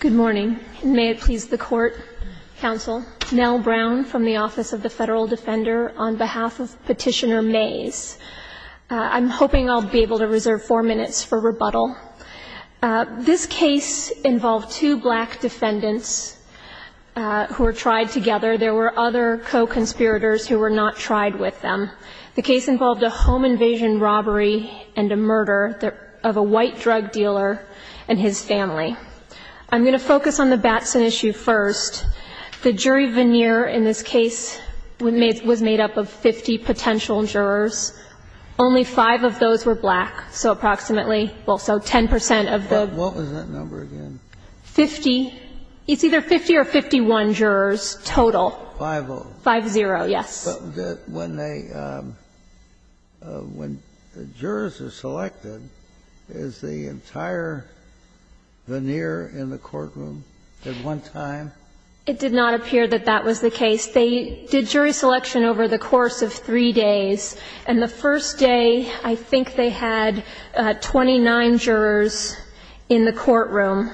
Good morning. May it please the court, counsel. Nell Brown from the Office of the Federal Defender on behalf of Petitioner Mayes. I'm hoping I'll be able to reserve four minutes for rebuttal. This case involved two black defendants who were tried together. There were other co-conspirators who were not tried with them. The case involved a home invasion robbery and a murder of a white drug dealer and his family. I'm going to focus on the Batson issue first. The jury veneer in this case was made up of 50 potential jurors. Only five of those were black, so approximately, well, so 10 percent of the — What was that number again? Fifty. It's either 50 or 51 jurors total. Five-oh. Five-zero, yes. But when they — when the jurors are selected, is the entire veneer in the courtroom at one time? It did not appear that that was the case. They did jury selection over the course of three days. And the first day, I think they had 29 jurors in the courtroom.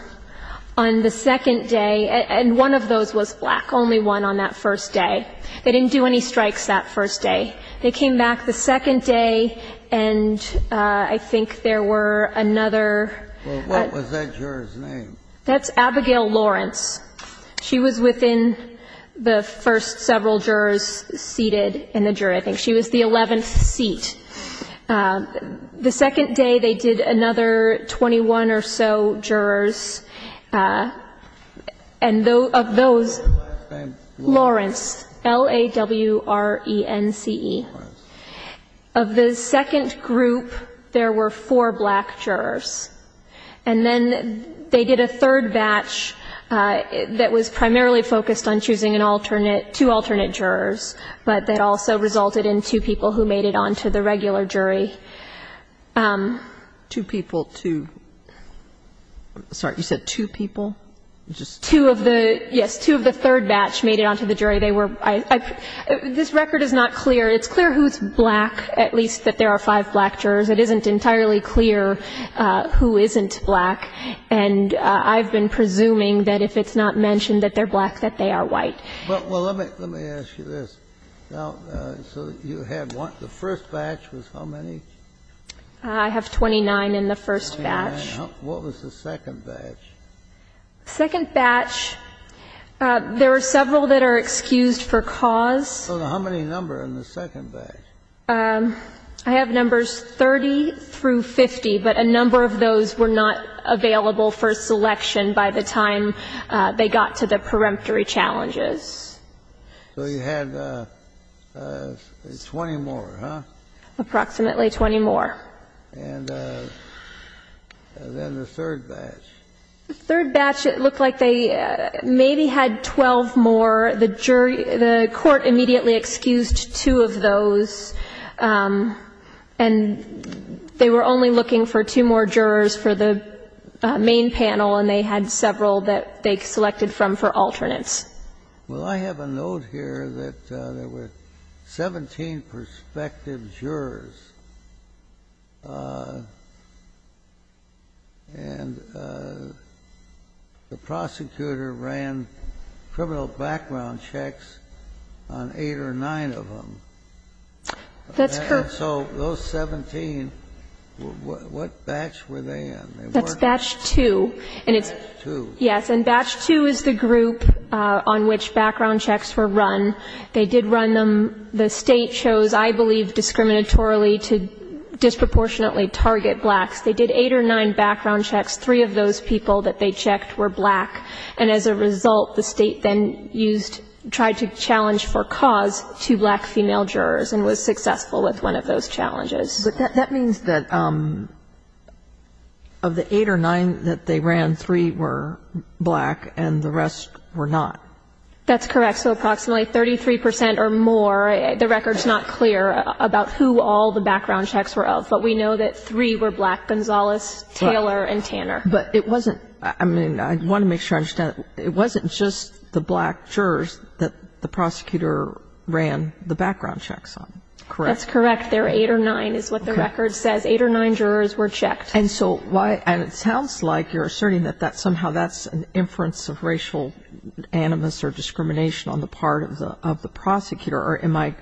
On the second day — and one of those was black, only one on that first day. They didn't do any strikes that first day. They came back the second day, and I think there were another — Well, what was that juror's name? That's Abigail Lawrence. She was within the first several jurors seated in the jury. I think she was the 11th seat. The second day, they did another 21 or so jurors. And of those — What was her last name? Lawrence, L-A-W-R-E-N-C-E. Of the second group, there were four black jurors. And then they did a third batch that was primarily focused on choosing an alternate — two alternate jurors, but that also resulted in two people who made it on to the regular jury. Two people, two — sorry, you said two people? Two of the — yes, two of the third batch made it on to the jury. They were — this record is not clear. It's clear who's black, at least that there are five black jurors. It isn't entirely clear who isn't black. And I've been presuming that if it's not mentioned that they're black, that they are white. Well, let me ask you this. So you had one — the first batch was how many? I have 29 in the first batch. What was the second batch? The second batch, there were several that are excused for cause. So how many number in the second batch? I have numbers 30 through 50, but a number of those were not available for selection by the time they got to the peremptory challenges. So you had 20 more, huh? Approximately 20 more. And then the third batch. The third batch, it looked like they maybe had 12 more. The jury — the court immediately excused two of those. And they were only looking for two more jurors for the main panel, and they had several that they selected from for alternates. Well, I have a note here that there were 17 prospective jurors. And the prosecutor ran criminal background checks on eight or nine of them. That's correct. So those 17, what batch were they in? That's batch 2. And it's — Batch 2. Yes. And batch 2 is the group on which background checks were run. They did run them. The State chose, I believe, discriminatorily to disproportionately target blacks. They did eight or nine background checks. Three of those people that they checked were black. And as a result, the State then used — tried to challenge for cause two black female jurors and was successful with one of those challenges. But that means that of the eight or nine that they ran, three were black and the rest were not. That's correct. So approximately 33 percent or more. The record's not clear about who all the background checks were of. But we know that three were black, Gonzalez, Taylor, and Tanner. But it wasn't — I mean, I want to make sure I understand. It wasn't just the black jurors that the prosecutor ran the background checks on, correct? That's correct. They were eight or nine is what the record says. Eight or nine jurors were checked. And so why — and it sounds like you're asserting that somehow that's an inference of racial animus or discrimination on the part of the prosecutor. Or am I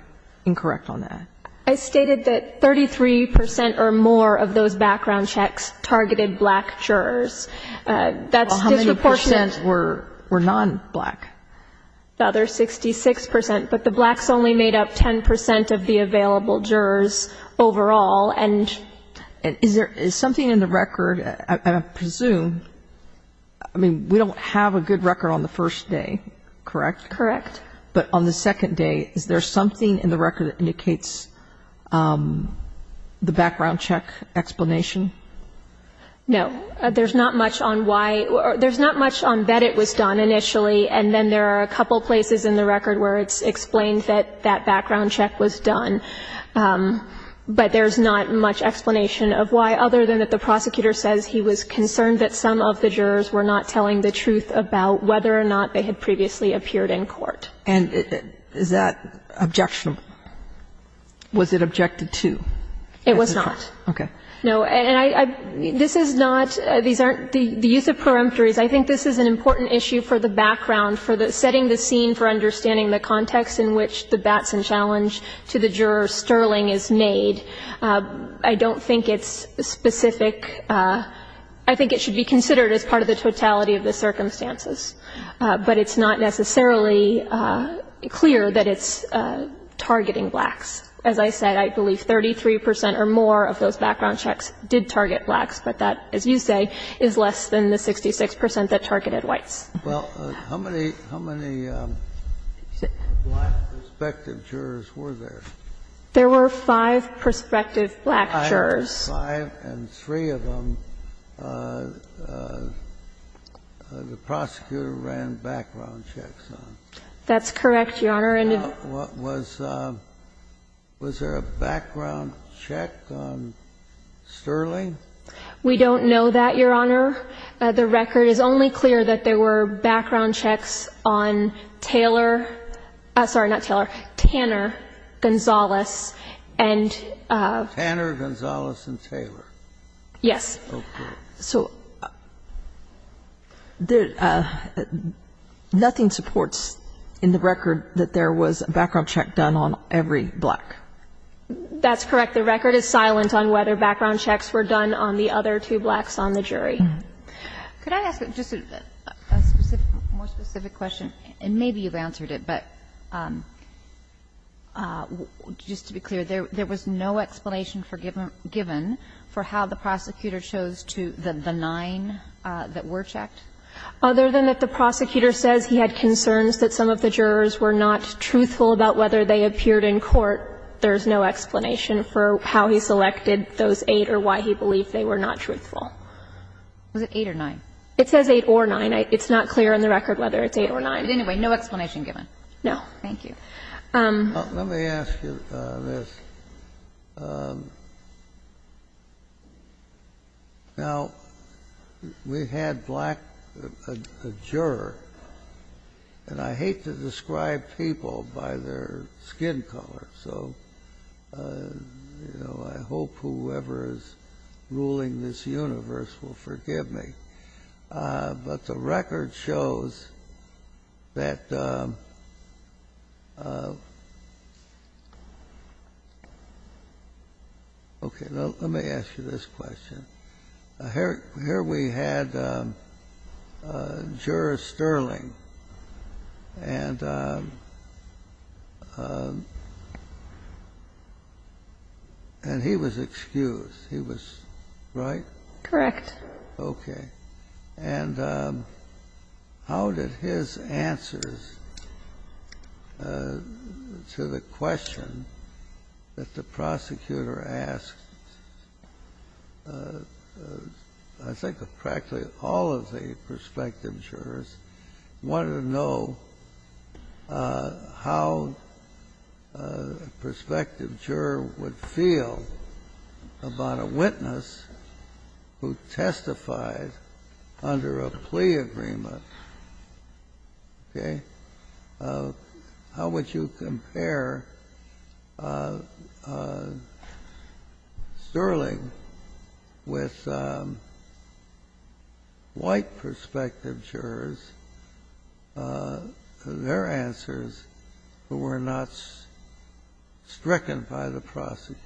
incorrect on that? I stated that 33 percent or more of those background checks targeted black jurors. That's disproportionate. Well, how many percent were non-black? The other 66 percent. But the blacks only made up 10 percent of the available jurors overall. And is there — is something in the record — I presume — I mean, we don't have a good record on the first day, correct? Correct. But on the second day, is there something in the record that indicates the background check explanation? No. There's not much on why — there's not much on that it was done initially, and then there are a couple places in the record where it's explained that that background check was done. But there's not much explanation of why, other than that the prosecutor says he was concerned that some of the jurors were not telling the truth about whether or not they had previously appeared in court. And is that objectionable? Was it objected to? It was not. Okay. No. And I — this is not — these aren't — the use of preemptories, I think this is an important issue for the background, for setting the scene for understanding the context in which the Batson challenge to the juror Sterling is made. I don't think it's specific. I think it should be considered as part of the totality of the circumstances. But it's not necessarily clear that it's targeting blacks. As I said, I believe 33 percent or more of those background checks did target blacks. But that, as you say, is less than the 66 percent that targeted whites. Well, how many — how many black prospective jurors were there? There were five prospective black jurors. Five, and three of them the prosecutor ran background checks on. That's correct, Your Honor. Was there a background check on Sterling? We don't know that, Your Honor. The record is only clear that there were background checks on Taylor — sorry, not Taylor, Tanner, Gonzales, and — Tanner, Gonzales, and Taylor. Yes. Okay. So there — nothing supports in the record that there was a background check done on every black. That's correct. The record is silent on whether background checks were done on the other two blacks on the jury. Could I ask just a more specific question? And maybe you've answered it, but just to be clear, there was no explanation given for how the prosecutor chose to — the nine that were checked? Other than that the prosecutor says he had concerns that some of the jurors were not truthful about whether they appeared in court, there's no explanation for how he selected those eight or why he believed they were not truthful. Was it eight or nine? It says eight or nine. It's not clear in the record whether it's eight or nine. But anyway, no explanation given. No. Thank you. Let me ask you this. Now, we had a black juror, and I hate to describe people by their skin color, so I hope whoever is ruling this universe will forgive me. But the record shows that — okay, let me ask you this question. Here we had Juror Sterling, and he was excused. He was — right? Correct. Okay. And how did his answers to the question that the prosecutor asked, I think of practically all of the prospective jurors, wanted to know how a prospective juror would feel about a witness who testified under a plea agreement? Okay? How would you compare Sterling with white prospective jurors, their answers, who were not stricken by the prosecutor?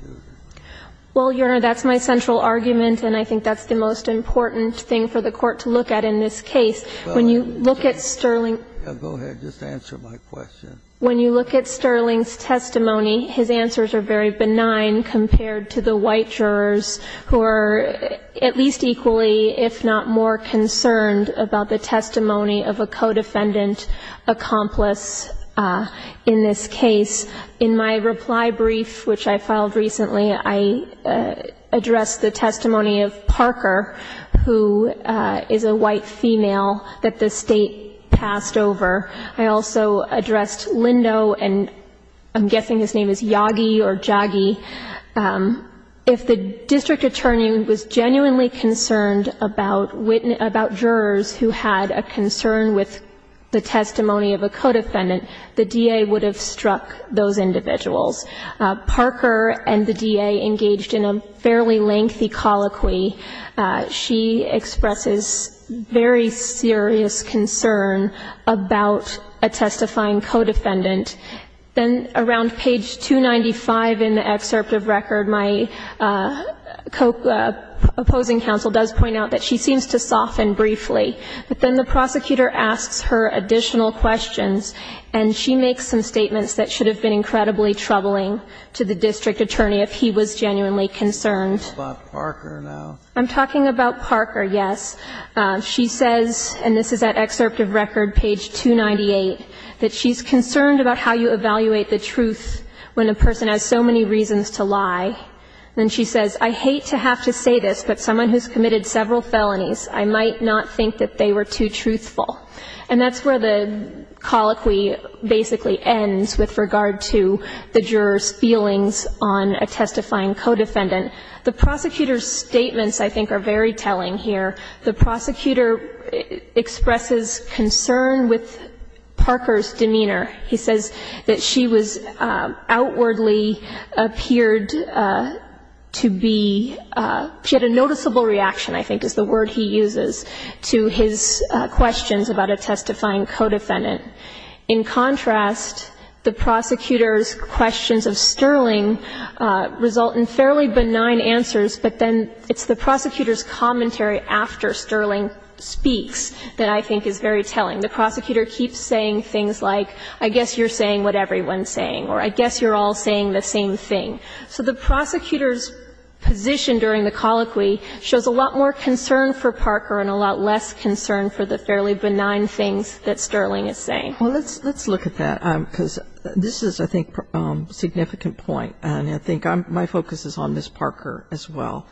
Well, Your Honor, that's my central argument, and I think that's the most important thing for the Court to look at in this case. When you look at Sterling — Go ahead. Just answer my question. When you look at Sterling's testimony, his answers are very benign compared to the white jurors who are at least equally, if not more, concerned about the testimony of a co-defendant accomplice in this case. In my reply brief, which I filed recently, I addressed the testimony of Parker, who is a white female that the State passed over. I also addressed Lindo, and I'm guessing his name is Yagi or Jagi. If the district attorney was genuinely concerned about jurors who had a concern with the testimony of a co-defendant, the DA would have struck those individuals. Parker and the DA engaged in a fairly lengthy colloquy. She expresses very serious concern about a testifying co-defendant. Then around page 295 in the excerpt of record, my opposing counsel does point out that she seems to soften briefly. But then the prosecutor asks her additional questions, and she makes some statements that should have been incredibly troubling to the district attorney if he was genuinely concerned. I'm talking about Parker now. I'm talking about Parker, yes. She says, and this is that excerpt of record, page 298, that she's concerned about how you evaluate the truth when a person has so many reasons to lie. Then she says, I hate to have to say this, but someone who's committed several felonies, I might not think that they were too truthful. And that's where the colloquy basically ends with regard to the juror's feelings on a testifying co-defendant. The prosecutor's statements, I think, are very telling here. The prosecutor expresses concern with Parker's demeanor. He says that she was outwardly appeared to be, she had a noticeable reaction, I think is the word he uses, to his questions about a testifying co-defendant. In contrast, the prosecutor's questions of Sterling result in fairly benign answers, but then it's the prosecutor's commentary after Sterling speaks that I think is very telling. The prosecutor keeps saying things like, I guess you're saying what everyone's saying, or I guess you're all saying the same thing. So the prosecutor's position during the colloquy shows a lot more concern for Parker and a lot less concern for the fairly benign things that Sterling is saying. Well, let's look at that, because this is, I think, a significant point. And I think my focus is on Ms. Parker as well.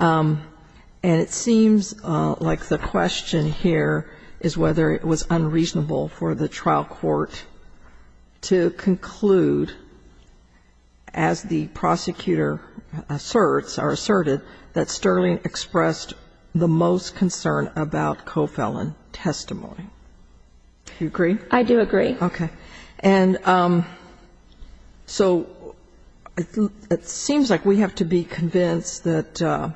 And it seems like the question here is whether it was unreasonable for the trial court to conclude, as the prosecutor asserts or asserted, that Sterling expressed the most concern about co-felon testimony. Do you agree? I do agree. Okay. And so it seems like we have to be convinced that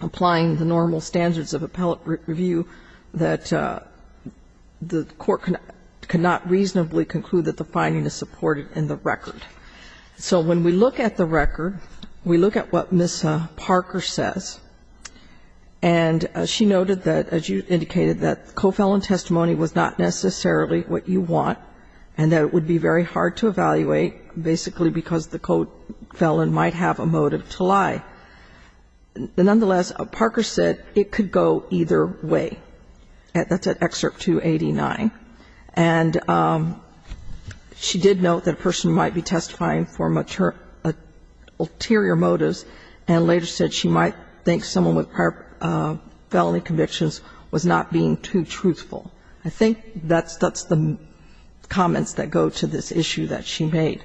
applying the normal standards of appellate review, that the court cannot reasonably conclude that the finding is supported in the record. So when we look at the record, we look at what Ms. Parker says. And she noted that, as you indicated, that co-felon testimony was not necessarily what you want, and that it would be very hard to evaluate, basically because the co-felon might have a motive to lie. Nonetheless, Parker said it could go either way. That's at Excerpt 289. And she did note that a person might be testifying for ulterior motives and later said she might think someone with prior felony convictions was not being too truthful. I think that's the comments that go to this issue that she made.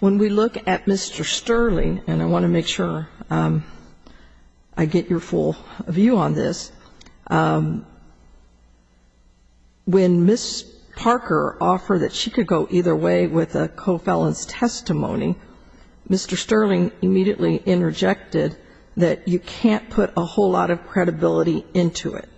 When we look at Mr. Sterling, and I want to make sure I get your full view on this, when Ms. Parker offered that she could go either way with a co-felon's testimony, Mr. Sterling immediately interjected that you can't put a whole lot of credibility into it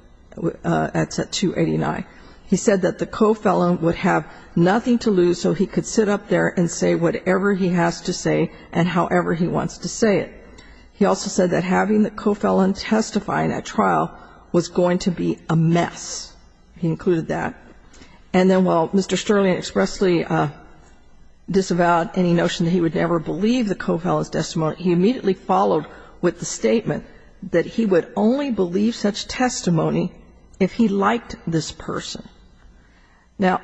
at Excerpt 289. He said that the co-felon would have nothing to lose so he could sit up there and say whatever he has to say and however he wants to say it. He also said that having the co-felon testify in that trial was going to be a mess. He included that. And then while Mr. Sterling expressly disavowed any notion that he would ever believe the co-felon's testimony, he immediately followed with the statement that he would only believe such testimony if he liked this person. Now,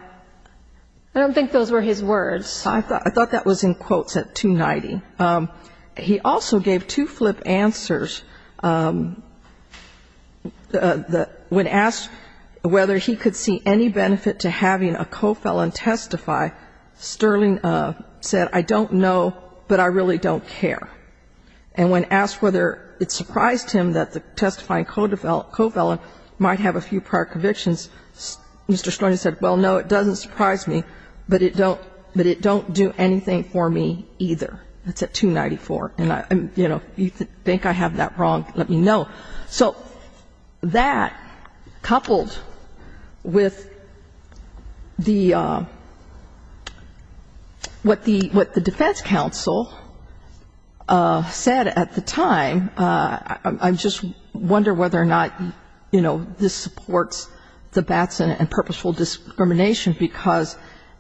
I don't think those were his words. I thought that was in quotes at 290. He also gave two flip answers. When asked whether he could see any benefit to having a co-felon testify, Sterling said, I don't know, but I really don't care. And when asked whether it surprised him that the testifying co-felon might have a few prior convictions, Mr. Sterling said, well, no, it doesn't surprise me, but it don't do anything for me either. That's at 294. And, you know, if you think I have that wrong, let me know. So that, coupled with the, what the defense counsel said at the time, I just wonder whether or not, you know, this supports the Batson and purposeful discrimination because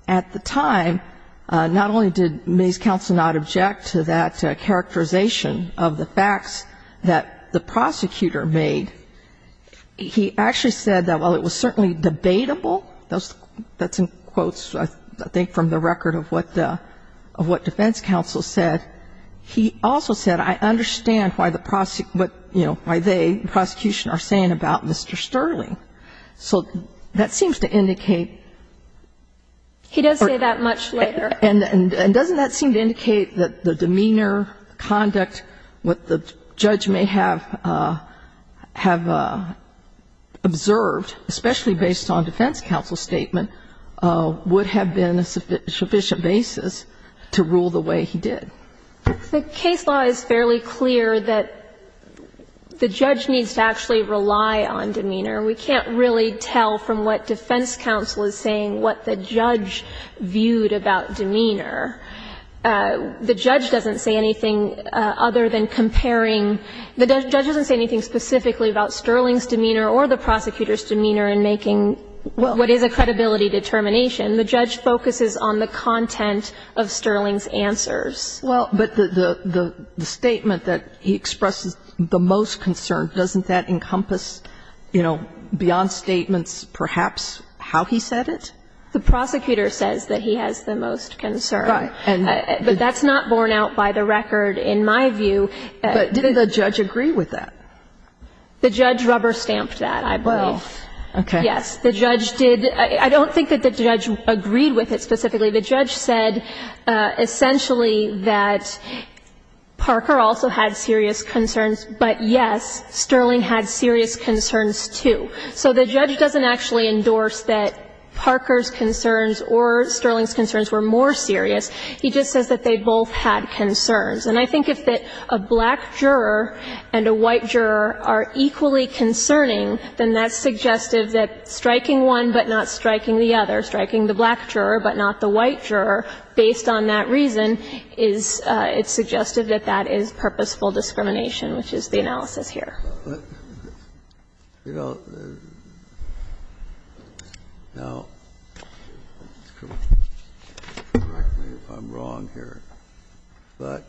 at the time, not only did May's counsel not object to that characterization of the facts that the prosecutor made, he actually said that while it was certainly debatable, that's in quotes, I think, from the record of what defense counsel said, he also said, I understand why the prosecution are saying about Mr. Sterling. So that seems to indicate. He does say that much later. And doesn't that seem to indicate that the demeanor, conduct, what the judge may have observed, especially based on defense counsel's statement, would have been a sufficient basis to rule the way he did? The case law is fairly clear that the judge needs to actually rely on demeanor. And we can't really tell from what defense counsel is saying what the judge viewed about demeanor. The judge doesn't say anything other than comparing. The judge doesn't say anything specifically about Sterling's demeanor or the prosecutor's demeanor in making what is a credibility determination. The judge focuses on the content of Sterling's answers. Well, but the statement that he expresses the most concern, doesn't that encompass, you know, beyond statements perhaps how he said it? The prosecutor says that he has the most concern. Right. But that's not borne out by the record in my view. But did the judge agree with that? The judge rubber-stamped that, I believe. Well, okay. Yes. The judge did. I don't think that the judge agreed with it specifically. The judge said essentially that Parker also had serious concerns, but yes, Sterling had serious concerns, too. So the judge doesn't actually endorse that Parker's concerns or Sterling's concerns were more serious. He just says that they both had concerns. And I think if a black juror and a white juror are equally concerning, then that's striking one but not striking the other, striking the black juror but not the white juror based on that reason, it's suggested that that is purposeful discrimination, which is the analysis here. Now, correct me if I'm wrong here, but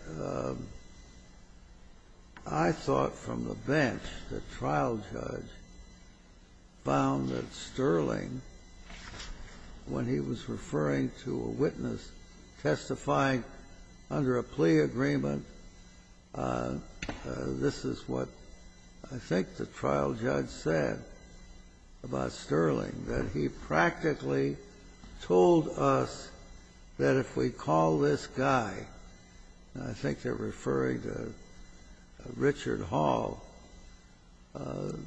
I thought from the bench, the trial judge found that Sterling, when he was referring to a witness testifying under a plea agreement, this is what I think the trial judge said about Sterling, that he practically told us that if we call this guy, and I think they're referring to Richard Hall, an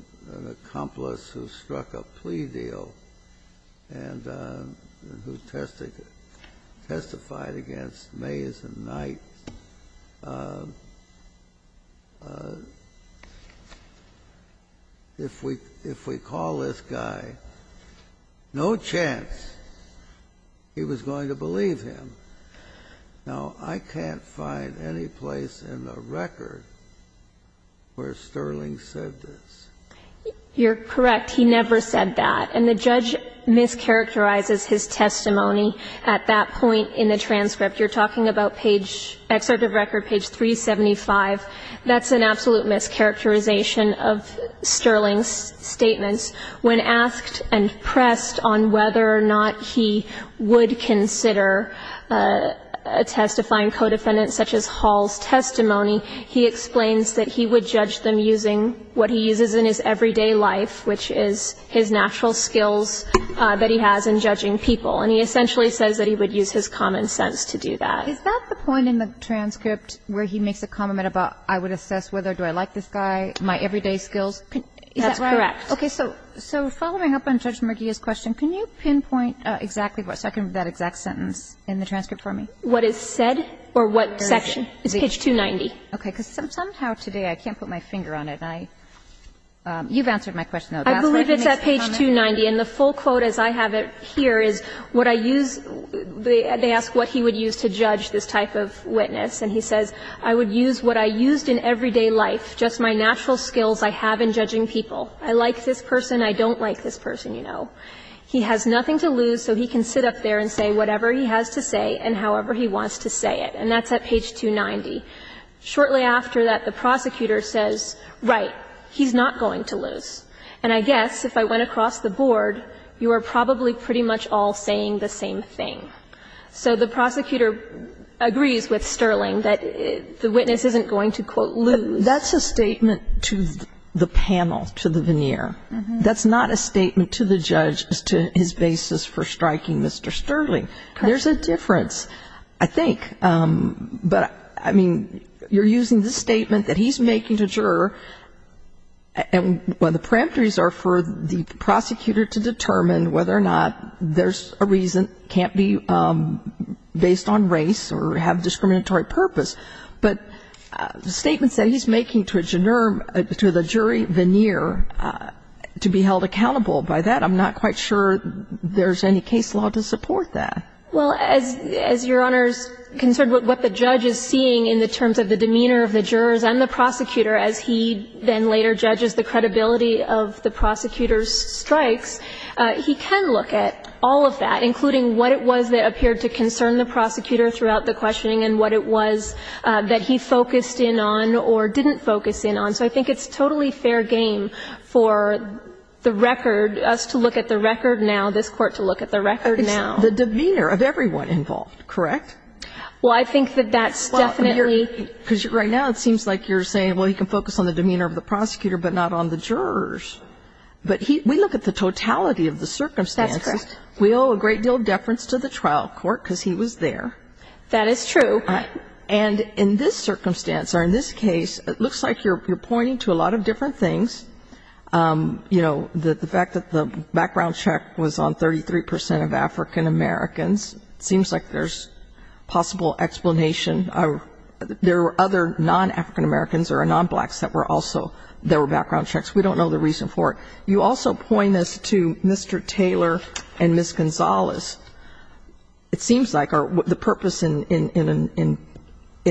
accomplice who struck a plea deal and who testified against Mays and Knight, if we call this guy, no chance he was going to believe him. Now, I can't find any place in the record where Sterling said this. You're correct. He never said that. And the judge mischaracterizes his testimony at that point in the transcript. You're talking about page, excerpt of record page 375. That's an absolute mischaracterization of Sterling's statements. When asked and pressed on whether or not he would consider testifying co-defendants, such as Hall's testimony, he explains that he would judge them using what he uses in his everyday life, which is his natural skills that he has in judging people. And he essentially says that he would use his common sense to do that. Is that the point in the transcript where he makes a comment about I would assess whether or do I like this guy, my everyday skills? That's correct. Okay. So following up on Judge Merguia's question, can you pinpoint exactly what second of that exact sentence in the transcript for me? What is said or what section? It's page 290. Okay. Because somehow today I can't put my finger on it. You've answered my question, though. I believe it's at page 290. And the full quote as I have it here is what I use, they ask what he would use to judge this type of witness, and he says, I would use what I used in everyday life, just my natural skills I have in judging people. I like this person. I don't like this person, you know. He has nothing to lose, so he can sit up there and say whatever he has to say and however he wants to say it. And that's at page 290. Shortly after that, the prosecutor says, right, he's not going to lose. And I guess if I went across the board, you are probably pretty much all saying the same thing. So the prosecutor agrees with Sterling that the witness isn't going to, quote, lose. That's a statement to the panel, to the veneer. That's not a statement to the judge as to his basis for striking Mr. Sterling. There's a difference, I think. But, I mean, you're using the statement that he's making to a juror, and one of the parameters are for the prosecutor to determine whether or not there's a reason, can't be based on race or have discriminatory purpose. But statements that he's making to a juror, to the jury veneer, to be held accountable by that, I'm not quite sure there's any case law to support that. Well, as Your Honor's concerned with what the judge is seeing in the terms of the demeanor of the jurors and the prosecutor as he then later judges the credibility of the prosecutor's strikes, he can look at all of that, including what it was that he focused in on or didn't focus in on. So I think it's totally fair game for the record, us to look at the record now, this Court to look at the record now. It's the demeanor of everyone involved, correct? Well, I think that that's definitely. Because right now it seems like you're saying, well, he can focus on the demeanor of the prosecutor but not on the jurors. But we look at the totality of the circumstances. That's correct. We owe a great deal of deference to the trial court because he was there. That is true. And in this circumstance or in this case, it looks like you're pointing to a lot of different things. You know, the fact that the background check was on 33 percent of African-Americans, it seems like there's possible explanation. There were other non-African-Americans or non-blacks that were also, there were background checks. We don't know the reason for it. You also point us to Mr. Taylor and Ms. Gonzalez. It seems like the purpose in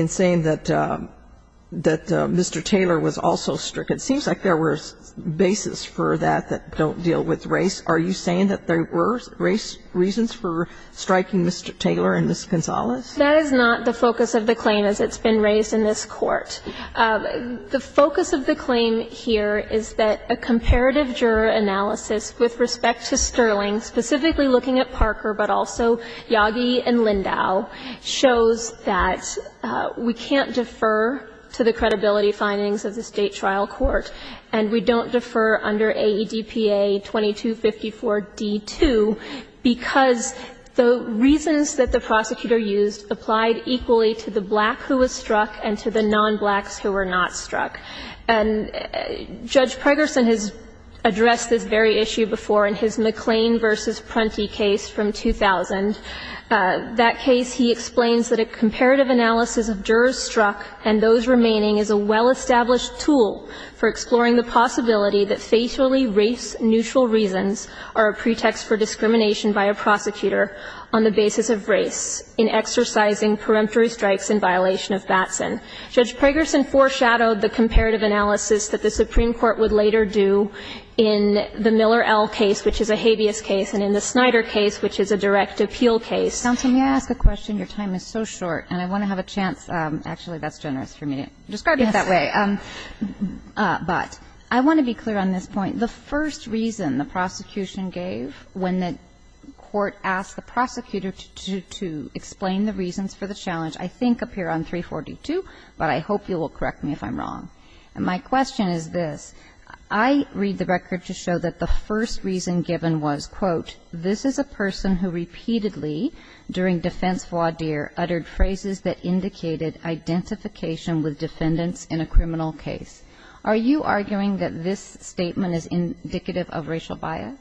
saying that Mr. Taylor was also strict, it seems like there were bases for that that don't deal with race. Are you saying that there were race reasons for striking Mr. Taylor and Ms. Gonzalez? That is not the focus of the claim as it's been raised in this Court. The focus of the claim here is that a comparative juror analysis with respect to Sterling, specifically looking at Parker, but also Yagi and Lindau, shows that we can't defer to the credibility findings of the State trial court, and we don't defer under AEDPA 2254d2 because the reasons that the prosecutor used applied equally to the black who was struck and to the non-blacks who were not struck. And Judge Pregerson has addressed this very issue before in his McLean v. Prunty case from 2000. That case, he explains that a comparative analysis of jurors struck and those remaining is a well-established tool for exploring the possibility that facially race-neutral reasons are a pretext for discrimination by a prosecutor on the basis of race in exercising peremptory strikes in violation of Batson. Judge Pregerson foreshadowed the comparative analysis that the Supreme Court would later do in the Miller L. case, which is a habeas case, and in the Snyder case, which is a direct appeal case. Counsel, may I ask a question? Your time is so short, and I want to have a chance. Actually, that's generous for me to describe it that way. But I want to be clear on this point. The first reason the prosecution gave when the Court asked the prosecutor to explain the reasons for the challenge I think appear on 342, but I hope you will correct me if I'm wrong. And my question is this. I read the record to show that the first reason given was, quote, this is a person who repeatedly, during defense voir dire, uttered phrases that indicated identification with defendants in a criminal case. Are you arguing that this statement is indicative of racial bias?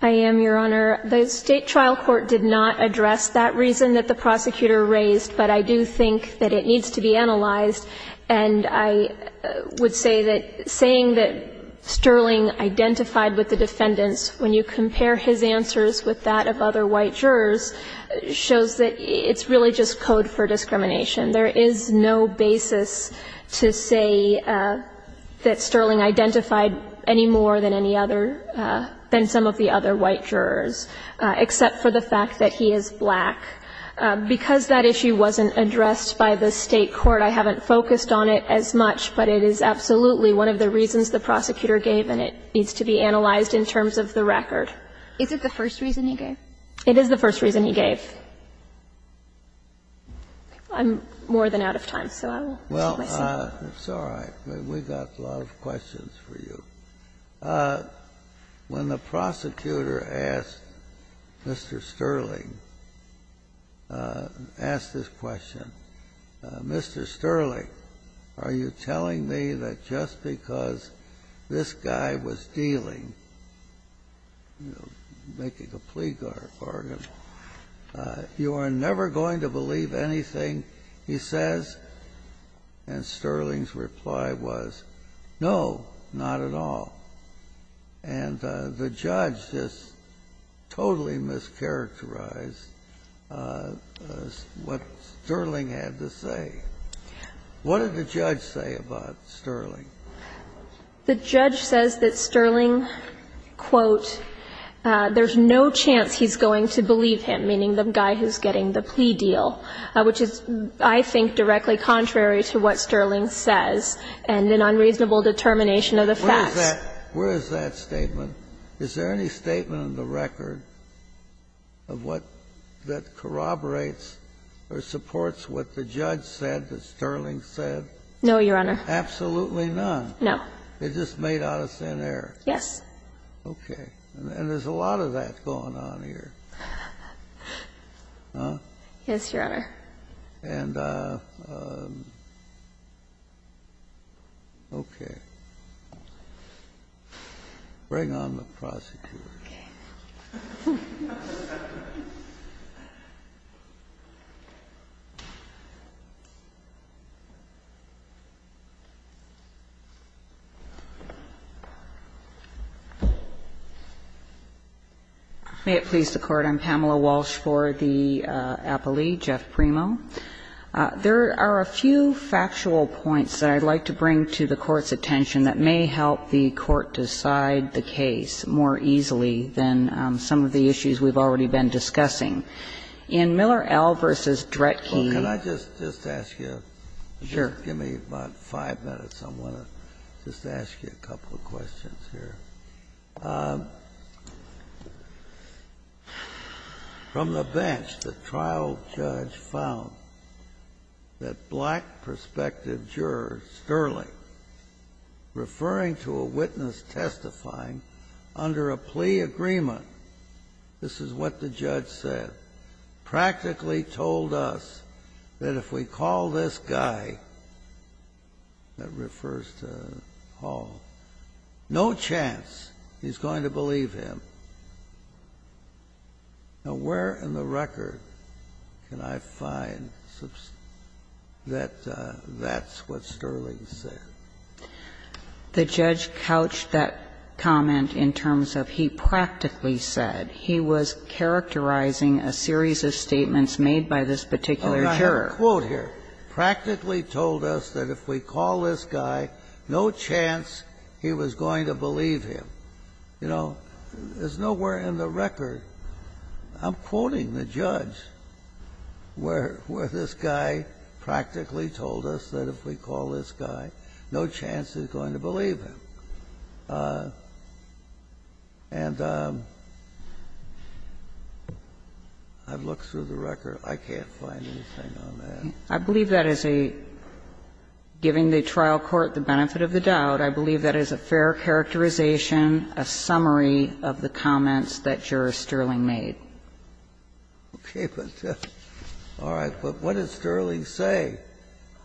I am, Your Honor. The State trial court did not address that reason that the prosecutor raised, but I do think that it needs to be analyzed. And I would say that saying that Sterling identified with the defendants, when you compare his answers with that of other white jurors, shows that it's really just code for discrimination. There is no basis to say that Sterling identified any more than any other, than some of the other white jurors, except for the fact that he is black. Because that issue wasn't addressed by the State court, I haven't focused on it as much, but it is absolutely one of the reasons the prosecutor gave and it needs to be analyzed in terms of the record. Is it the first reason he gave? It is the first reason he gave. I'm more than out of time, so I will take my seat. Well, it's all right. We've got a lot of questions for you. When the prosecutor asked Mr. Sterling, asked this question, Mr. Sterling, are you telling me that just because this guy was dealing, you know, making a plea bargain, you are never going to believe anything he says? And Sterling's reply was, no, not at all. And the judge just totally mischaracterized what Sterling had to say. What did the judge say about Sterling? The judge says that Sterling, quote, there's no chance he's going to believe him, meaning the guy who's getting the plea deal, which is, I think, directly contrary to what Sterling says and an unreasonable determination of the facts. Where is that statement? Is there any statement in the record of what that corroborates or supports what the judge said that Sterling said? No, Your Honor. Absolutely none? No. It just made out of thin air? Yes. Okay. And there's a lot of that going on here. Huh? Yes, Your Honor. And, okay. Bring on the prosecutor. Okay. May it please the Court. I'm Pamela Walsh for the appellee, Jeff Primo. There are a few factual points that I'd like to bring to the Court's attention that may help the Court decide the case more easily than some of the issues we've already been discussing. In Miller L. v. Dretke. Well, can I just ask you? Sure. Just give me about five minutes. I want to just ask you a couple of questions here. From the bench, the trial judge found that black prospective juror Sterling, referring to a witness testifying under a plea agreement, this is what the judge said, practically told us that if we call this guy that refers to Hall, no chance he's going to believe him. Now, where in the record can I find that that's what Sterling said? The judge couched that comment in terms of he practically said. He was characterizing a series of statements made by this particular juror. I have a quote here. He practically told us that if we call this guy, no chance he was going to believe him. You know, there's nowhere in the record, I'm quoting the judge, where this guy practically told us that if we call this guy, no chance he's going to believe him. And I've looked through the record. I can't find anything on that. I believe that is a, giving the trial court the benefit of the doubt, I believe that is a fair characterization, a summary of the comments that Juror Sterling made. Okay, but, all right, but what did Sterling say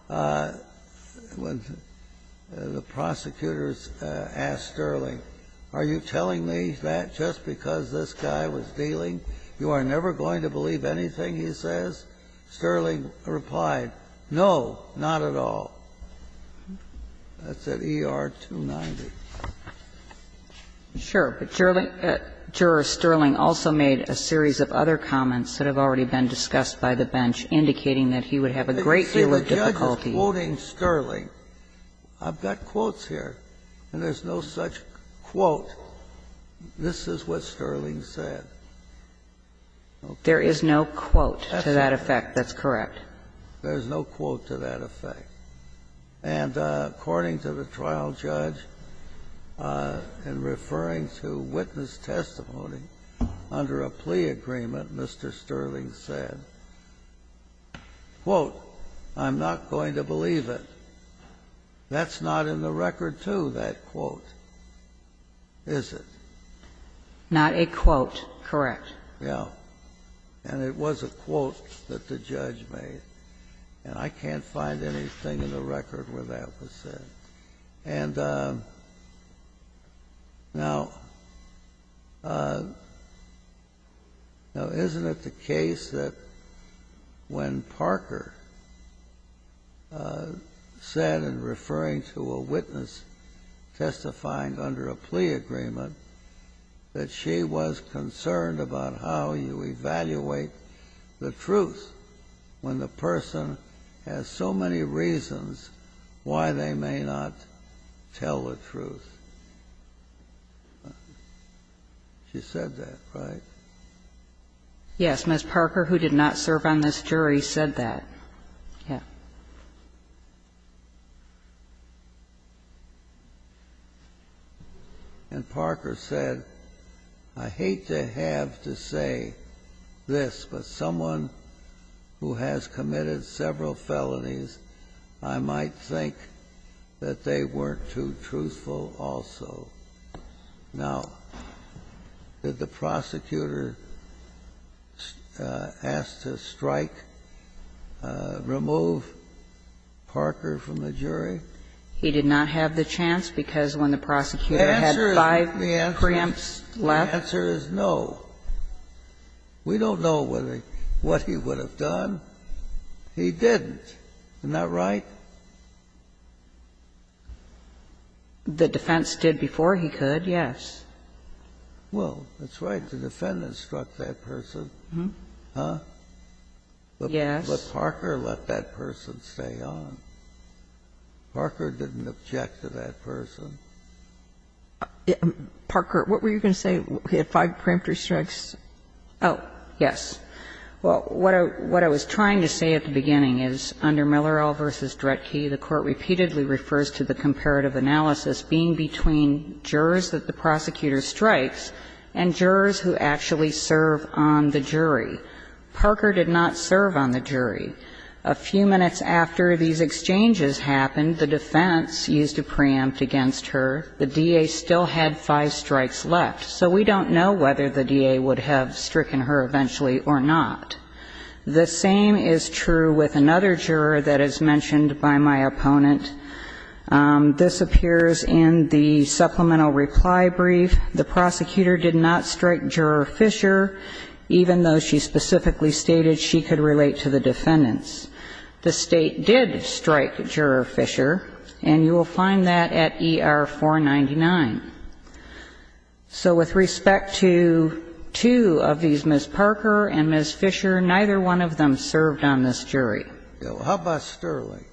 when the prosecutors asked Sterling, are you telling me that just because this guy was dealing, you are never going to believe anything he says? Sterling replied, no, not at all. That's at ER-290. Sure, but Juror Sterling also made a series of other comments that have already been discussed by the bench indicating that he would have a great deal of difficulty. You see, the judge is quoting Sterling. I've got quotes here, and there's no such quote, this is what Sterling said. There is no quote to that effect, that's correct. There's no quote to that effect. And according to the trial judge, in referring to witness testimony, under a plea agreement, Mr. Sterling said, quote, I'm not going to believe it. That's not in the record, too, that quote, is it? Not a quote, correct. Yeah. And it was a quote that the judge made. And I can't find anything in the record where that was said. And now, now, isn't it the case that when Parker said in referring to a witness testifying under a plea agreement, that she was concerned about how you evaluate the truth when the person has so many reasons why they may not tell the truth? She said that, right? Yes. Ms. Parker, who did not serve on this jury, said that. Yeah. And Parker said, I hate to have to say this, but someone who has committed several felonies, I might think that they weren't too truthful also. Now, did the prosecutor ask to strike, remove Parker from the jury? He did not have the chance because when the prosecutor had five preempts left. The answer is no. We don't know what he would have done. He didn't. Isn't that right? The defense did before he could, yes. Well, that's right. The defendant struck that person. Yes. But Parker let that person stay on. Parker didn't object to that person. Parker, what were you going to say? He had five preemptive strikes. Oh, yes. Well, what I was trying to say at the beginning is under Millerell v. Dretke, the Court repeatedly refers to the comparative analysis being between jurors that the prosecutor strikes and jurors who actually serve on the jury. Parker did not serve on the jury. A few minutes after these exchanges happened, the defense used a preempt against her. The DA still had five strikes left. So we don't know whether the DA would have stricken her eventually or not. The same is true with another juror that is mentioned by my opponent. This appears in the supplemental reply brief. The prosecutor did not strike Juror Fisher, even though she specifically stated she could relate to the defendants. The State did strike Juror Fisher, and you will find that at ER-499. So with respect to two of these, Ms. Parker and Ms. Fisher, neither one of them served on this jury. How about Sterling?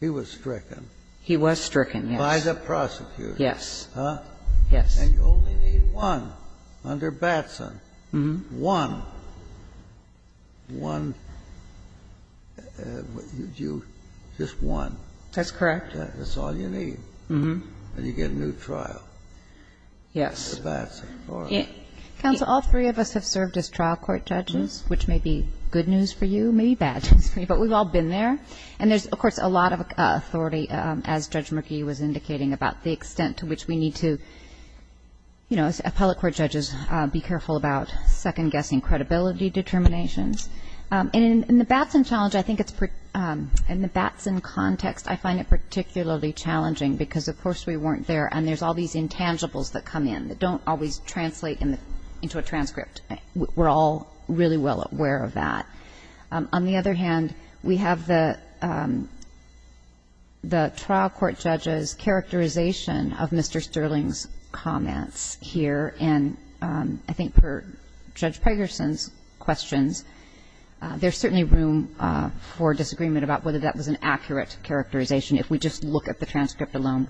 He was stricken. He was stricken, yes. By the prosecutor. Yes. Huh? Yes. And you only need one under Batson. One. One. Just one. That's correct. That's all you need. And you get a new trial. Yes. For Batson. Counsel, all three of us have served as trial court judges, which may be good news for you, maybe bad news for you, but we've all been there. And there's, of course, a lot of authority, as Judge McGee was indicating, about the extent to which we need to, you know, as appellate court judges, be careful about second-guessing credibility determinations. And in the Batson challenge, I think it's pretty – in the Batson context, I find it particularly challenging because, of course, we weren't there, and there's all these intangibles that come in that don't always translate into a transcript. We're all really well aware of that. On the other hand, we have the trial court judge's characterization of Mr. Sterling's comments here, and I think per Judge Pegerson's questions, there's certainly room for disagreement about whether that was an accurate characterization if we just look at the transcript alone.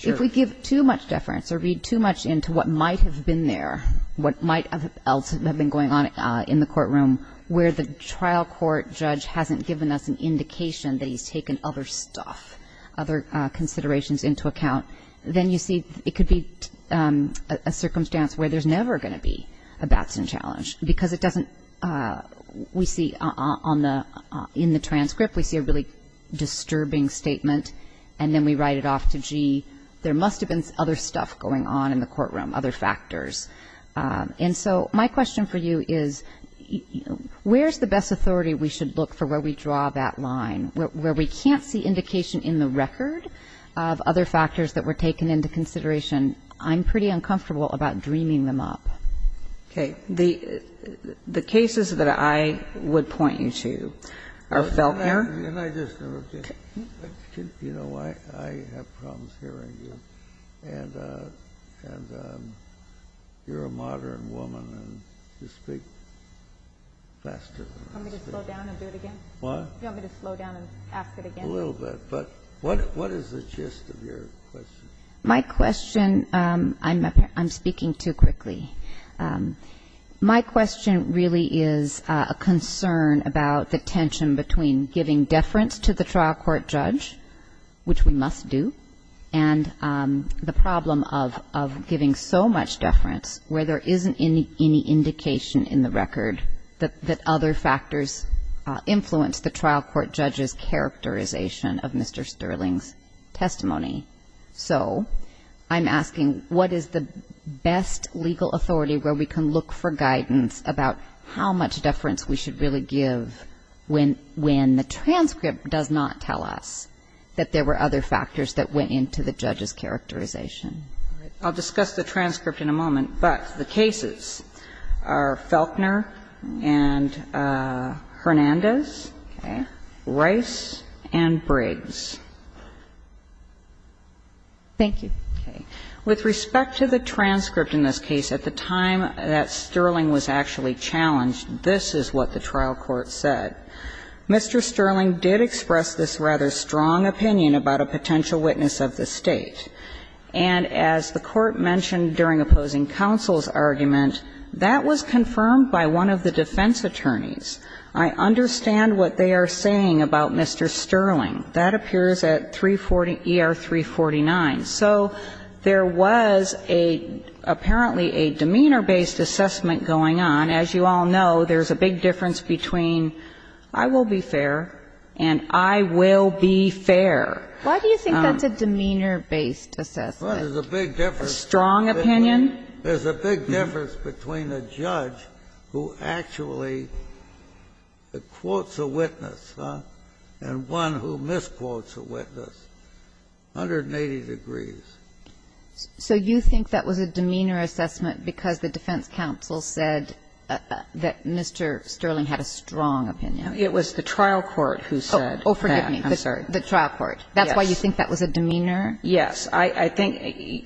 If we give too much deference or read too much into what might have been there, what might else have been going on in the courtroom, where the trial court judge hasn't given us an indication that he's taken other stuff, other considerations into account, then you see it could be a circumstance where there's never going to be a Batson challenge because it doesn't – we see on the – in the transcript, we see a really disturbing statement, and then we write it off to, gee, there must have been other stuff going on in the courtroom, other factors. And so my question for you is, where's the best authority we should look for where we draw that line? Where we can't see indication in the record of other factors that were taken into consideration, I'm pretty uncomfortable about dreaming them up. Okay. The cases that I would point you to are felt here. Can I just interrupt you? Okay. You know, I have problems hearing you, and you're a modern woman, and you speak faster than I speak. Do you want me to slow down and do it again? What? Do you want me to slow down and ask it again? A little bit. But what is the gist of your question? My question – I'm speaking too quickly. My question really is a concern about the tension between giving deference to the trial court judge, which we must do, and the problem of giving so much deference where there isn't any indication in the record that other factors influence the trial court judge's characterization of Mr. Sterling's testimony. So I'm asking, what is the best legal authority where we can look for guidance about how much deference we should really give when the transcript does not tell us that there were other factors that went into the judge's characterization? I'll discuss the transcript in a moment. But the cases are Felkner and Hernandez, Rice and Briggs. Thank you. Okay. With respect to the transcript in this case, at the time that Sterling was actually challenged, this is what the trial court said. Mr. Sterling did express this rather strong opinion about a potential witness of the State. And as the Court mentioned during opposing counsel's argument, that was confirmed by one of the defense attorneys. I understand what they are saying about Mr. Sterling. That appears at 340 ER 349. So there was a – apparently a demeanor-based assessment going on. As you all know, there's a big difference between I will be fair and I will be fair. Why do you think that's a demeanor-based assessment? Well, there's a big difference. A strong opinion? There's a big difference between a judge who actually quotes a witness and one who misquotes a witness, 180 degrees. So you think that was a demeanor assessment because the defense counsel said that Mr. Sterling had a strong opinion? It was the trial court who said that. Oh, forgive me. I'm sorry. The trial court. That's why you think that was a demeanor? Yes. I think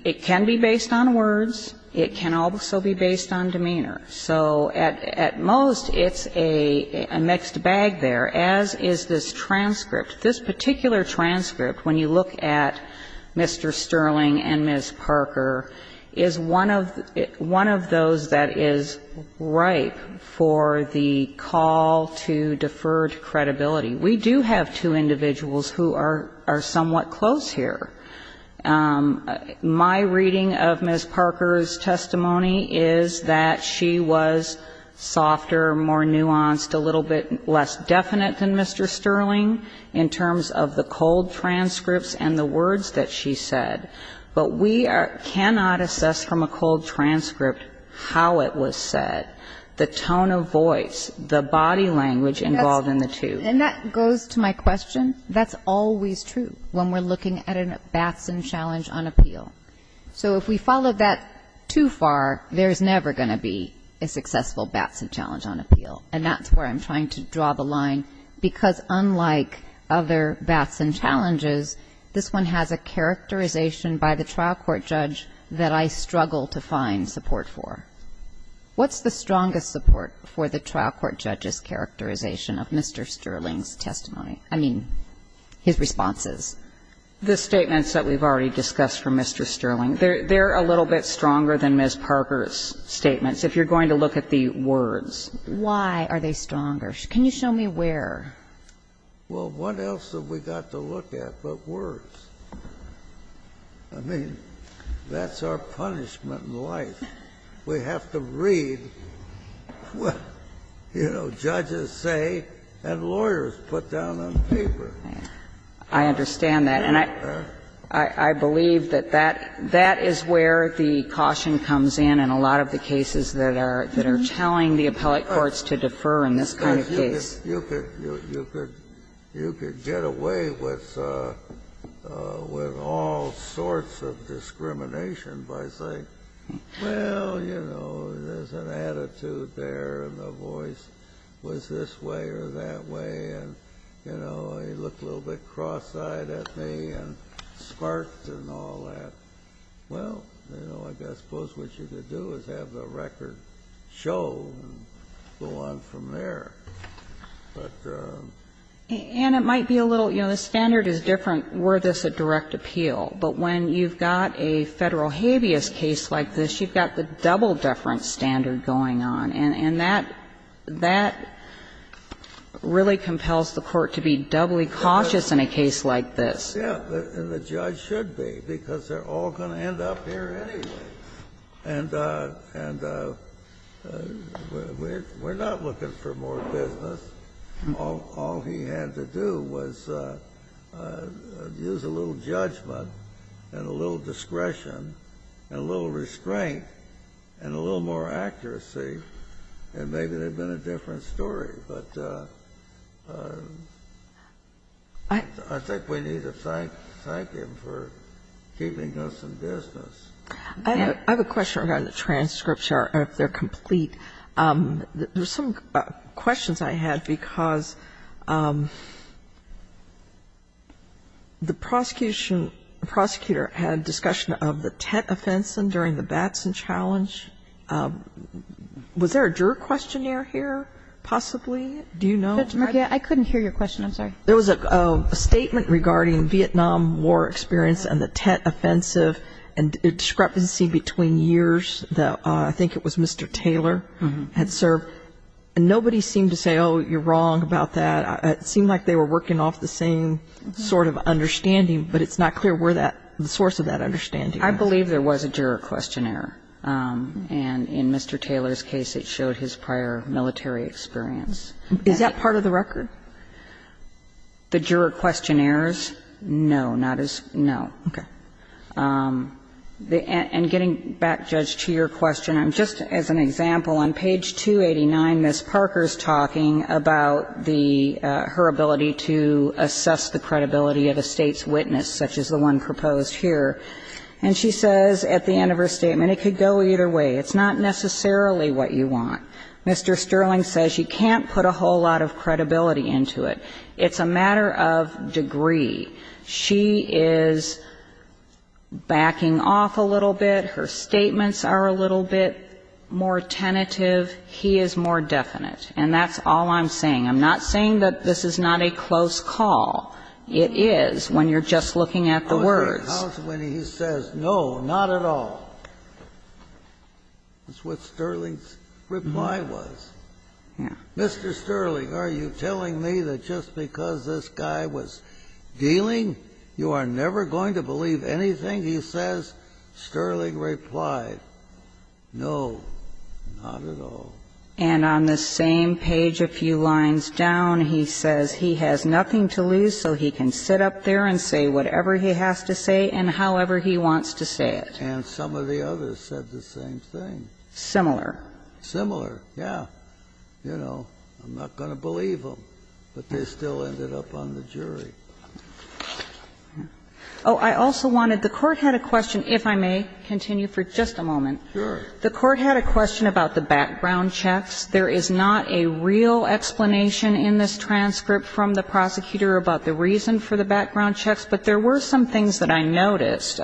it can be based on words. It can also be based on demeanor. So at most, it's a mixed bag there, as is this transcript. This particular transcript, when you look at Mr. Sterling and Ms. Parker, is one of those that is ripe for the call to deferred credibility. We do have two individuals who are somewhat close here. My reading of Ms. Parker's testimony is that she was softer, more nuanced, a little bit less definite than Mr. Sterling in terms of the cold transcripts and the words that she said. But we cannot assess from a cold transcript how it was said, the tone of voice, the body language involved in the two. And that goes to my question. That's always true when we're looking at a Batson challenge on appeal. So if we follow that too far, there's never going to be a successful Batson challenge on appeal. And that's where I'm trying to draw the line, because unlike other Batson challenges, this one has a characterization by the trial court judge that I struggle to find support for. What's the strongest support for the trial court judge's characterization of Mr. Sterling's testimony? I mean, his responses. The statements that we've already discussed from Mr. Sterling, they're a little bit stronger than Ms. Parker's statements, if you're going to look at the words. Why are they stronger? Can you show me where? Well, what else have we got to look at but words? I mean, that's our punishment in life. We have to read what, you know, judges say and lawyers put down on paper. I understand that. And I believe that that is where the caution comes in in a lot of the cases that are telling the appellate courts to defer in this kind of case. You could get away with all sorts of discrimination by saying, well, you know, we're Well, you know, there's an attitude there and the voice was this way or that way, and, you know, he looked a little bit cross-eyed at me and sparked and all that. Well, you know, I guess I suppose what you could do is have the record show and go on from there. But the ---- And it might be a little, you know, the standard is different were this a direct appeal, but when you've got a Federal habeas case like this, you've got the double deference standard going on. And that really compels the court to be doubly cautious in a case like this. Yes. And the judge should be, because they're all going to end up here anyway. And we're not looking for more business. All he had to do was use a little judgment and a little discretion and a little restraint and a little more accuracy, and maybe it would have been a different story, but I think we need to thank him for keeping us in business. I have a question regarding the transcripts, if they're complete. There's some questions I had because the prosecution, prosecutor had discussion of the Tet Offensive during the Batson Challenge. Was there a juror questionnaire here possibly? Do you know? Judge Markey, I couldn't hear your question. I'm sorry. There was a statement regarding Vietnam War experience and the Tet Offensive and discrepancy between years. I think it was Mr. Taylor had served. Nobody seemed to say, oh, you're wrong about that. It seemed like they were working off the same sort of understanding, but it's not clear where the source of that understanding was. I believe there was a juror questionnaire. And in Mr. Taylor's case, it showed his prior military experience. Is that part of the record? The juror questionnaires? No, not as far. No. Okay. And getting back, Judge, to your question, just as an example, on page 289, Ms. Parker is talking about the her ability to assess the credibility of a State's witness, such as the one proposed here. And she says at the end of her statement, it could go either way. It's not necessarily what you want. Mr. Sterling says you can't put a whole lot of credibility into it. It's a matter of degree. She is backing off a little bit. Her statements are a little bit more tentative. He is more definite. And that's all I'm saying. I'm not saying that this is not a close call. It is when you're just looking at the words. How is it when he says no, not at all? That's what Sterling's reply was. Yeah. Mr. Sterling, are you telling me that just because this guy was dealing, you are never going to believe anything he says? Sterling replied, no, not at all. And on the same page a few lines down, he says he has nothing to lose, so he can sit up there and say whatever he has to say and however he wants to say it. And some of the others said the same thing. Similar. Similar, yeah. You know, I'm not going to believe them, but they still ended up on the jury. Oh, I also wanted to question, if I may continue for just a moment. Sure. The Court had a question about the background checks. There is not a real explanation in this transcript from the prosecutor about the reason for the background checks, but there were some things that I noticed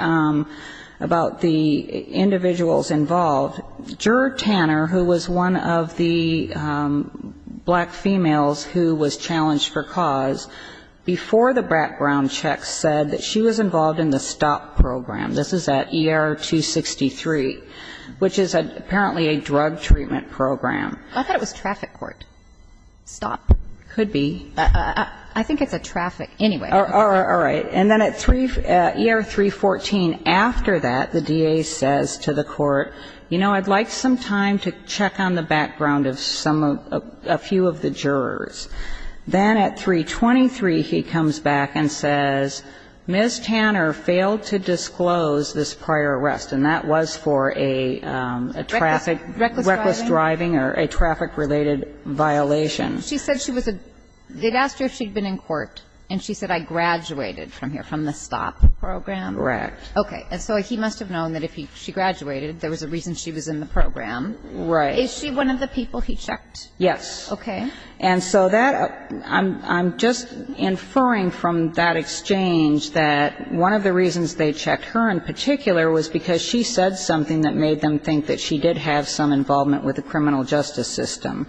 about the individuals involved. Juror Tanner, who was one of the black females who was challenged for cause, before the background checks said that she was involved in the STOP program. This is at ER 263, which is apparently a drug treatment program. I thought it was traffic court. Stop. Could be. I think it's a traffic, anyway. All right. And then at ER 314, after that, the DA says to the Court, you know, I'd like some time to check on the background of some of, a few of the jurors. Then at 323, he comes back and says, Ms. Tanner failed to disclose this prior arrest, and that was for a traffic, reckless driving or a traffic-related violation. She said she was a, they'd asked her if she'd been in court, and she said, I graduated. From here, from the STOP program? Correct. Okay. So he must have known that if she graduated, there was a reason she was in the program. Right. Is she one of the people he checked? Yes. Okay. And so that, I'm just inferring from that exchange that one of the reasons they checked her in particular was because she said something that made them think that she did have some involvement with the criminal justice system.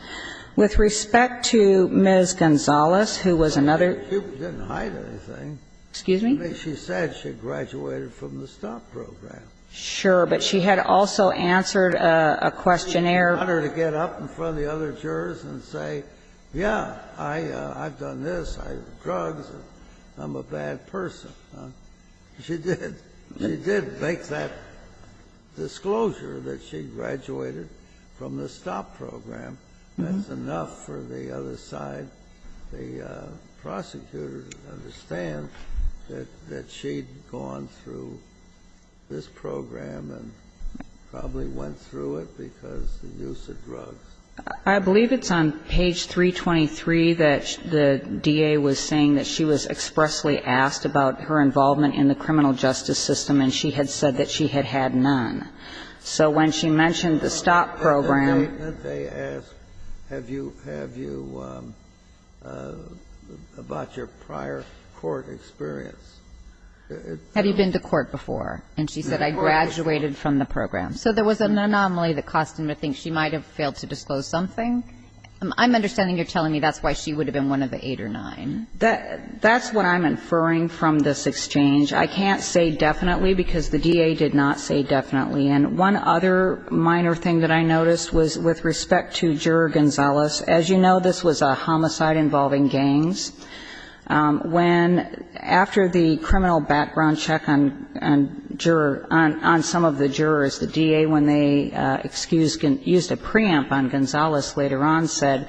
With respect to Ms. Gonzalez, who was another. She didn't hide anything. Excuse me? I mean, she said she graduated from the STOP program. Sure. But she had also answered a questionnaire. She didn't want her to get up in front of the other jurors and say, yeah, I've done this, I have drugs, I'm a bad person. She did. She did make that disclosure that she graduated from the STOP program. That's enough for the other side, the prosecutor, to understand that she had gone through this program and probably went through it because of the use of drugs. I believe it's on page 323 that the DA was saying that she was expressly asked about her involvement in the criminal justice system, and she had said that she had had none. So when she mentioned the STOP program. At what point did they ask, have you, have you, about your prior court experience? Have you been to court before? And she said, I graduated from the program. So there was an anomaly that caused them to think she might have failed to disclose something. I'm understanding you're telling me that's why she would have been one of the eight or nine. That's what I'm inferring from this exchange. I can't say definitely because the DA did not say definitely. And one other minor thing that I noticed was with respect to Juror Gonzalez. As you know, this was a homicide involving gangs. When, after the criminal background check on juror, on some of the jurors, the DA, when they excused, used a preempt on Gonzalez later on, said,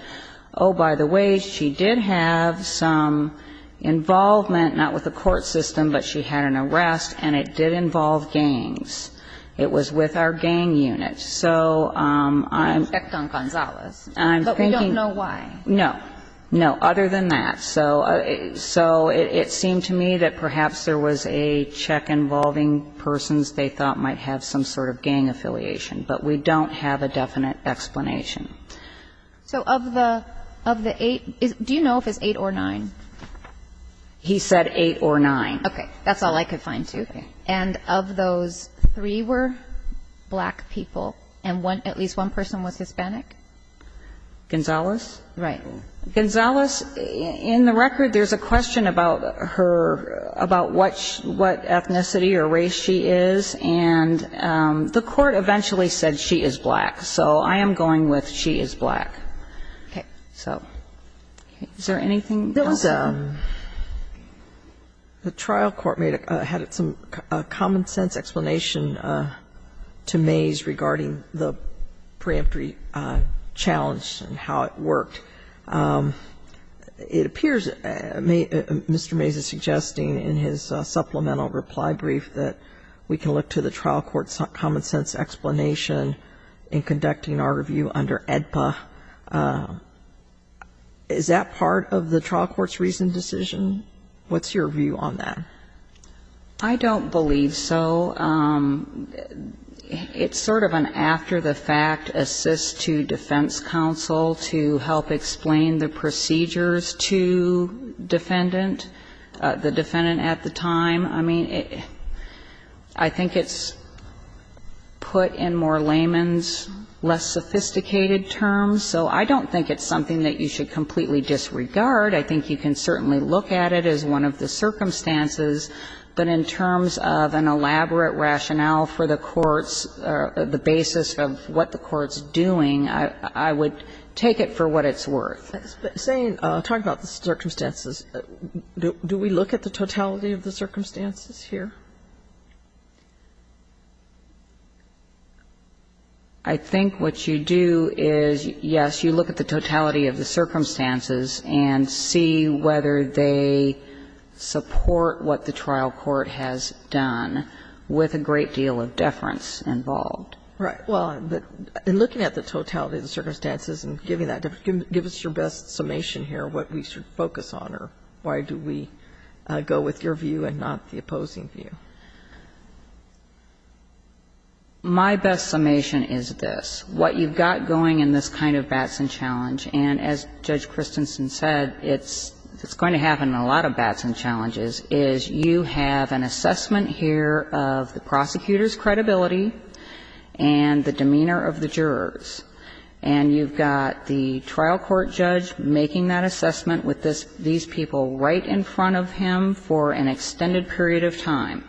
oh, by the way, she did have some involvement, not with the court system, but she had an arrest, and it did involve gangs. It was with our gang unit. So I'm. Respect on Gonzalez. But we don't know why. No. No. Other than that. So it seemed to me that perhaps there was a check involving persons they thought might have some sort of gang affiliation. But we don't have a definite explanation. So of the, of the eight, do you know if it's eight or nine? He said eight or nine. Okay. That's all I could find, too. Okay. And of those three were black people, and one, at least one person was Hispanic? Gonzalez? Right. Gonzalez, in the record, there's a question about her, about what ethnicity or race she is. And the court eventually said she is black. So I am going with she is black. Okay. So is there anything else? The trial court had some common-sense explanation to Mays regarding the preemptory challenge and how it worked. It appears Mr. Mays is suggesting in his supplemental reply brief that we can look to the trial court's common-sense explanation in conducting our review under AEDPA. Is that part of the trial court's recent decision? What's your view on that? I don't believe so. It's sort of an after-the-fact assist to defense counsel to help explain the procedures to defendant, the defendant at the time. I mean, I think it's put in more layman's, less sophisticated terms. So I don't think it's something that you should completely disregard. I think you can certainly look at it as one of the circumstances. But in terms of an elaborate rationale for the courts, the basis of what the court's doing, I would take it for what it's worth. But saying, talking about the circumstances, do we look at the totality of the circumstances here? I think what you do is, yes, you look at the totality of the circumstances and see whether they support what the trial court has done with a great deal of deference involved. Right. Well, in looking at the totality of the circumstances and giving that, give us your best summation here what we should focus on, or why do we go with your view and not the opposing view. My best summation is this. What you've got going in this kind of Batson challenge, and as Judge Christensen said, it's going to happen in a lot of Batson challenges, is you have an assessment here of the prosecutor's credibility and the demeanor of the jurors, and you've got the trial court judge making that assessment with these people right in front of him for an extended period of time.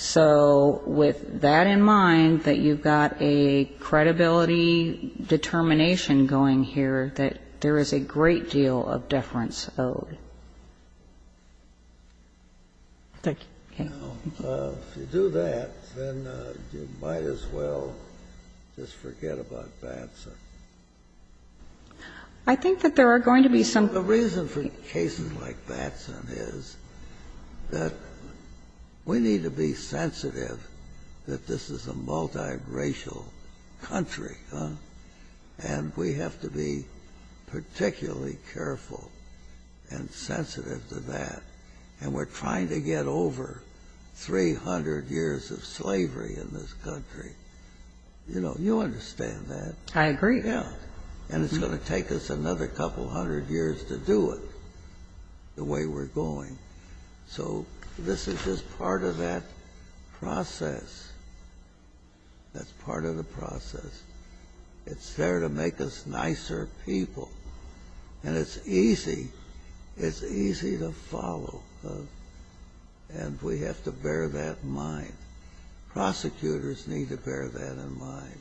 So with that in mind, that you've got a credibility determination going here that there is a great deal of deference owed. Thank you. Kennedy. If you do that, then you might as well just forget about Batson. I think that there are going to be some. The reason for cases like Batson is that we need to be sensitive that this is a multiracial country, and we have to be particularly careful and sensitive to that. And we're trying to get over 300 years of slavery in this country. You know, you understand that. I agree. Yeah. And it's going to take us another couple hundred years to do it the way we're going. So this is just part of that process. That's part of the process. It's there to make us nicer people. And it's easy. It's easy to follow. And we have to bear that in mind. Prosecutors need to bear that in mind.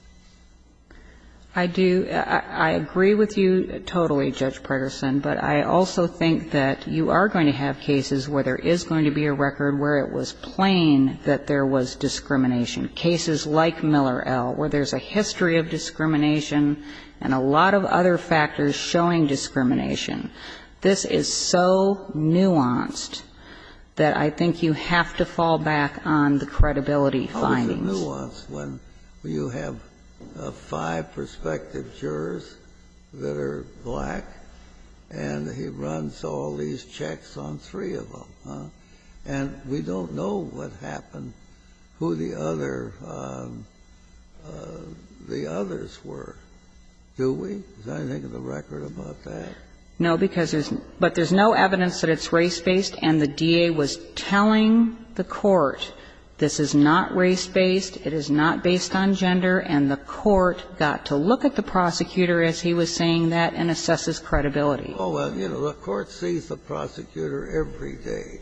I do. I agree with you totally, Judge Preterson. But I also think that you are going to have cases where there is going to be a record where it was plain that there was discrimination. Cases like Miller L., where there's a history of discrimination and a lot of other factors showing discrimination. This is so nuanced that I think you have to fall back on the credibility findings. Well, it's a nuance when you have five prospective jurors that are black, and he runs all these checks on three of them. And we don't know what happened, who the other the others were, do we? Is there anything in the record about that? No, because there's no evidence that it's race-based, and the DA was telling the court this is not race-based, it is not based on gender, and the court got to look at the prosecutor as he was saying that and assess his credibility. Oh, well, you know, the court sees the prosecutor every day.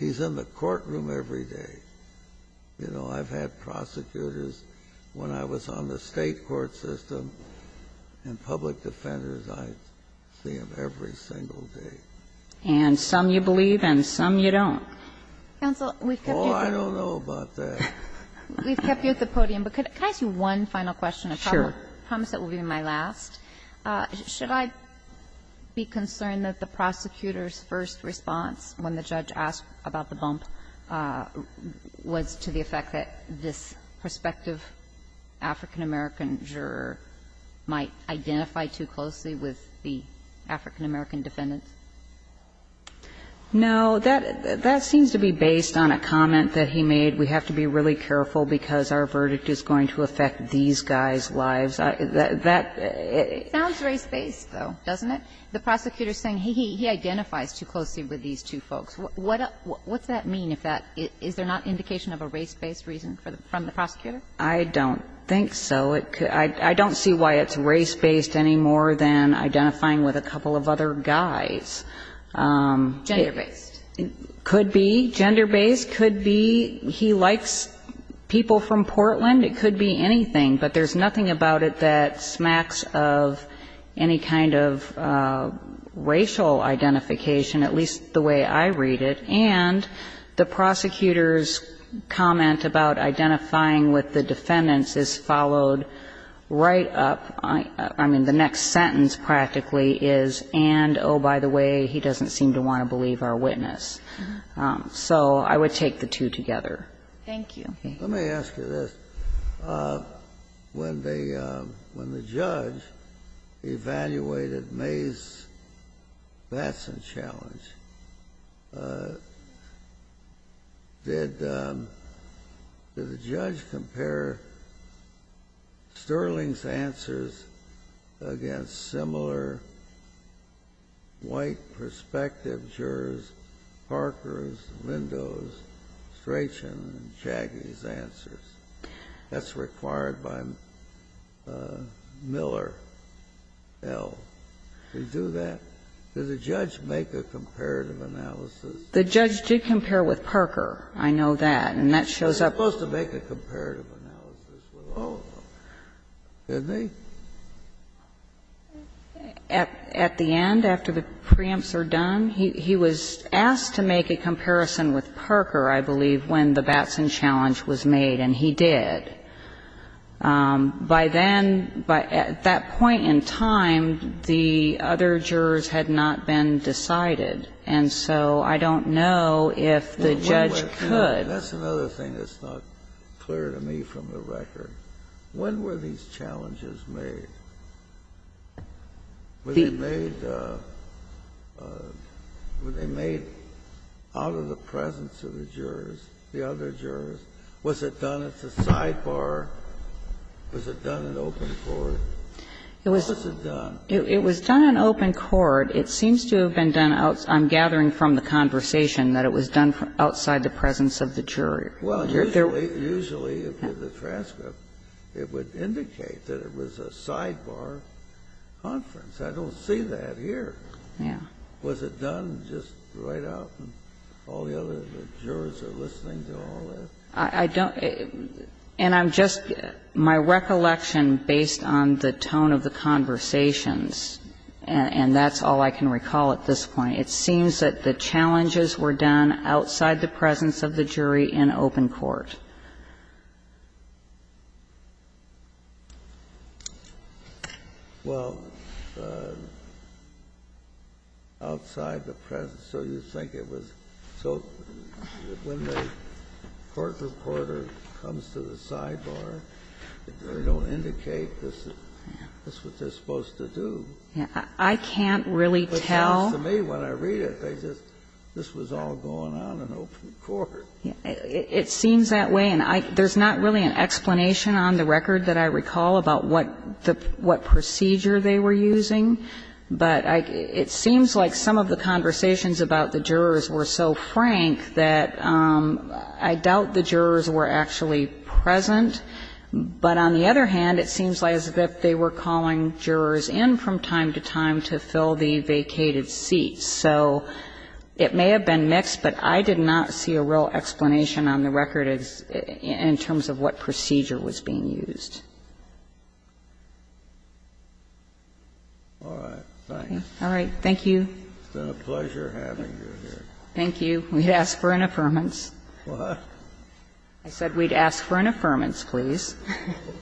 He's in the courtroom every day. You know, I've had prosecutors when I was on the State court system and public defenders, I see them every single day. And some you believe and some you don't. Counsel, we've kept you at the podium. Oh, I don't know about that. We've kept you at the podium. But can I ask you one final question? Sure. I promise that will be my last. Should I be concerned that the prosecutor's first response when the judge asked about the bump was to the effect that this prospective African-American juror might identify too closely with the African-American defendants? No. That seems to be based on a comment that he made, we have to be really careful because our verdict is going to affect these guys' lives. That they. It sounds race-based, though, doesn't it? The prosecutor is saying he identifies too closely with these two folks. What does that mean? Is there not indication of a race-based reason from the prosecutor? I don't think so. I don't see why it's race-based any more than identifying with a couple of other guys. Gender-based. Could be. Gender-based. Could be he likes people from Portland. It could be anything. But there's nothing about it that smacks of any kind of racial identification, at least the way I read it. And the prosecutor's comment about identifying with the defendants is followed right up. I mean, the next sentence practically is, and, oh, by the way, he doesn't seem to want to believe our witness. So I would take the two together. Thank you. Let me ask you this. When the judge evaluated May's Batson challenge, did the judge compare Sterling's answers against similar white prospective jurors, Parker's, Lindo's, Strachan and Chagny's answers? That's required by Miller L. Did he do that? Did the judge make a comparative analysis? The judge did compare with Parker. I know that. And that shows up. He was supposed to make a comparative analysis with all of them. Didn't he? At the end, after the preempts are done, he was asked to make a comparison with Parker, I believe, when the Batson challenge was made. And he did. By then, at that point in time, the other jurors had not been decided. And so I don't know if the judge could. That's another thing that's not clear to me from the record. When were these challenges made? Were they made out of the presence of the jurors, the other jurors? Was it done as a sidebar? Was it done in open court? How was it done? It was done in open court. It seems to have been done outside. I'm gathering from the conversation that it was done outside the presence of the jury. Well, usually the transcript, it would indicate that it was a sidebar conference. I don't see that here. Yeah. Was it done just right out and all the other jurors are listening to all that? I don't. And I'm just my recollection, based on the tone of the conversations, and that's all I can recall at this point, it seems that the challenges were done outside the presence of the jury in open court. Well, outside the presence. So you think it was. So when the court reporter comes to the sidebar, they don't indicate this is what they're supposed to do. I can't really tell. It seems to me when I read it, they just, this was all going on in open court. It seems that way. And there's not really an explanation on the record that I recall about what procedure they were using. But it seems like some of the conversations about the jurors were so frank that I doubt the jurors were actually present. But on the other hand, it seems as if they were calling jurors in from time to time to fill the vacated seats. So it may have been mixed, but I did not see a real explanation on the record in terms of what procedure was being used. All right. Thank you. It's been a pleasure having you here. Thank you. We'd ask for an affirmance. What? I said we'd ask for an affirmance, please. Okay.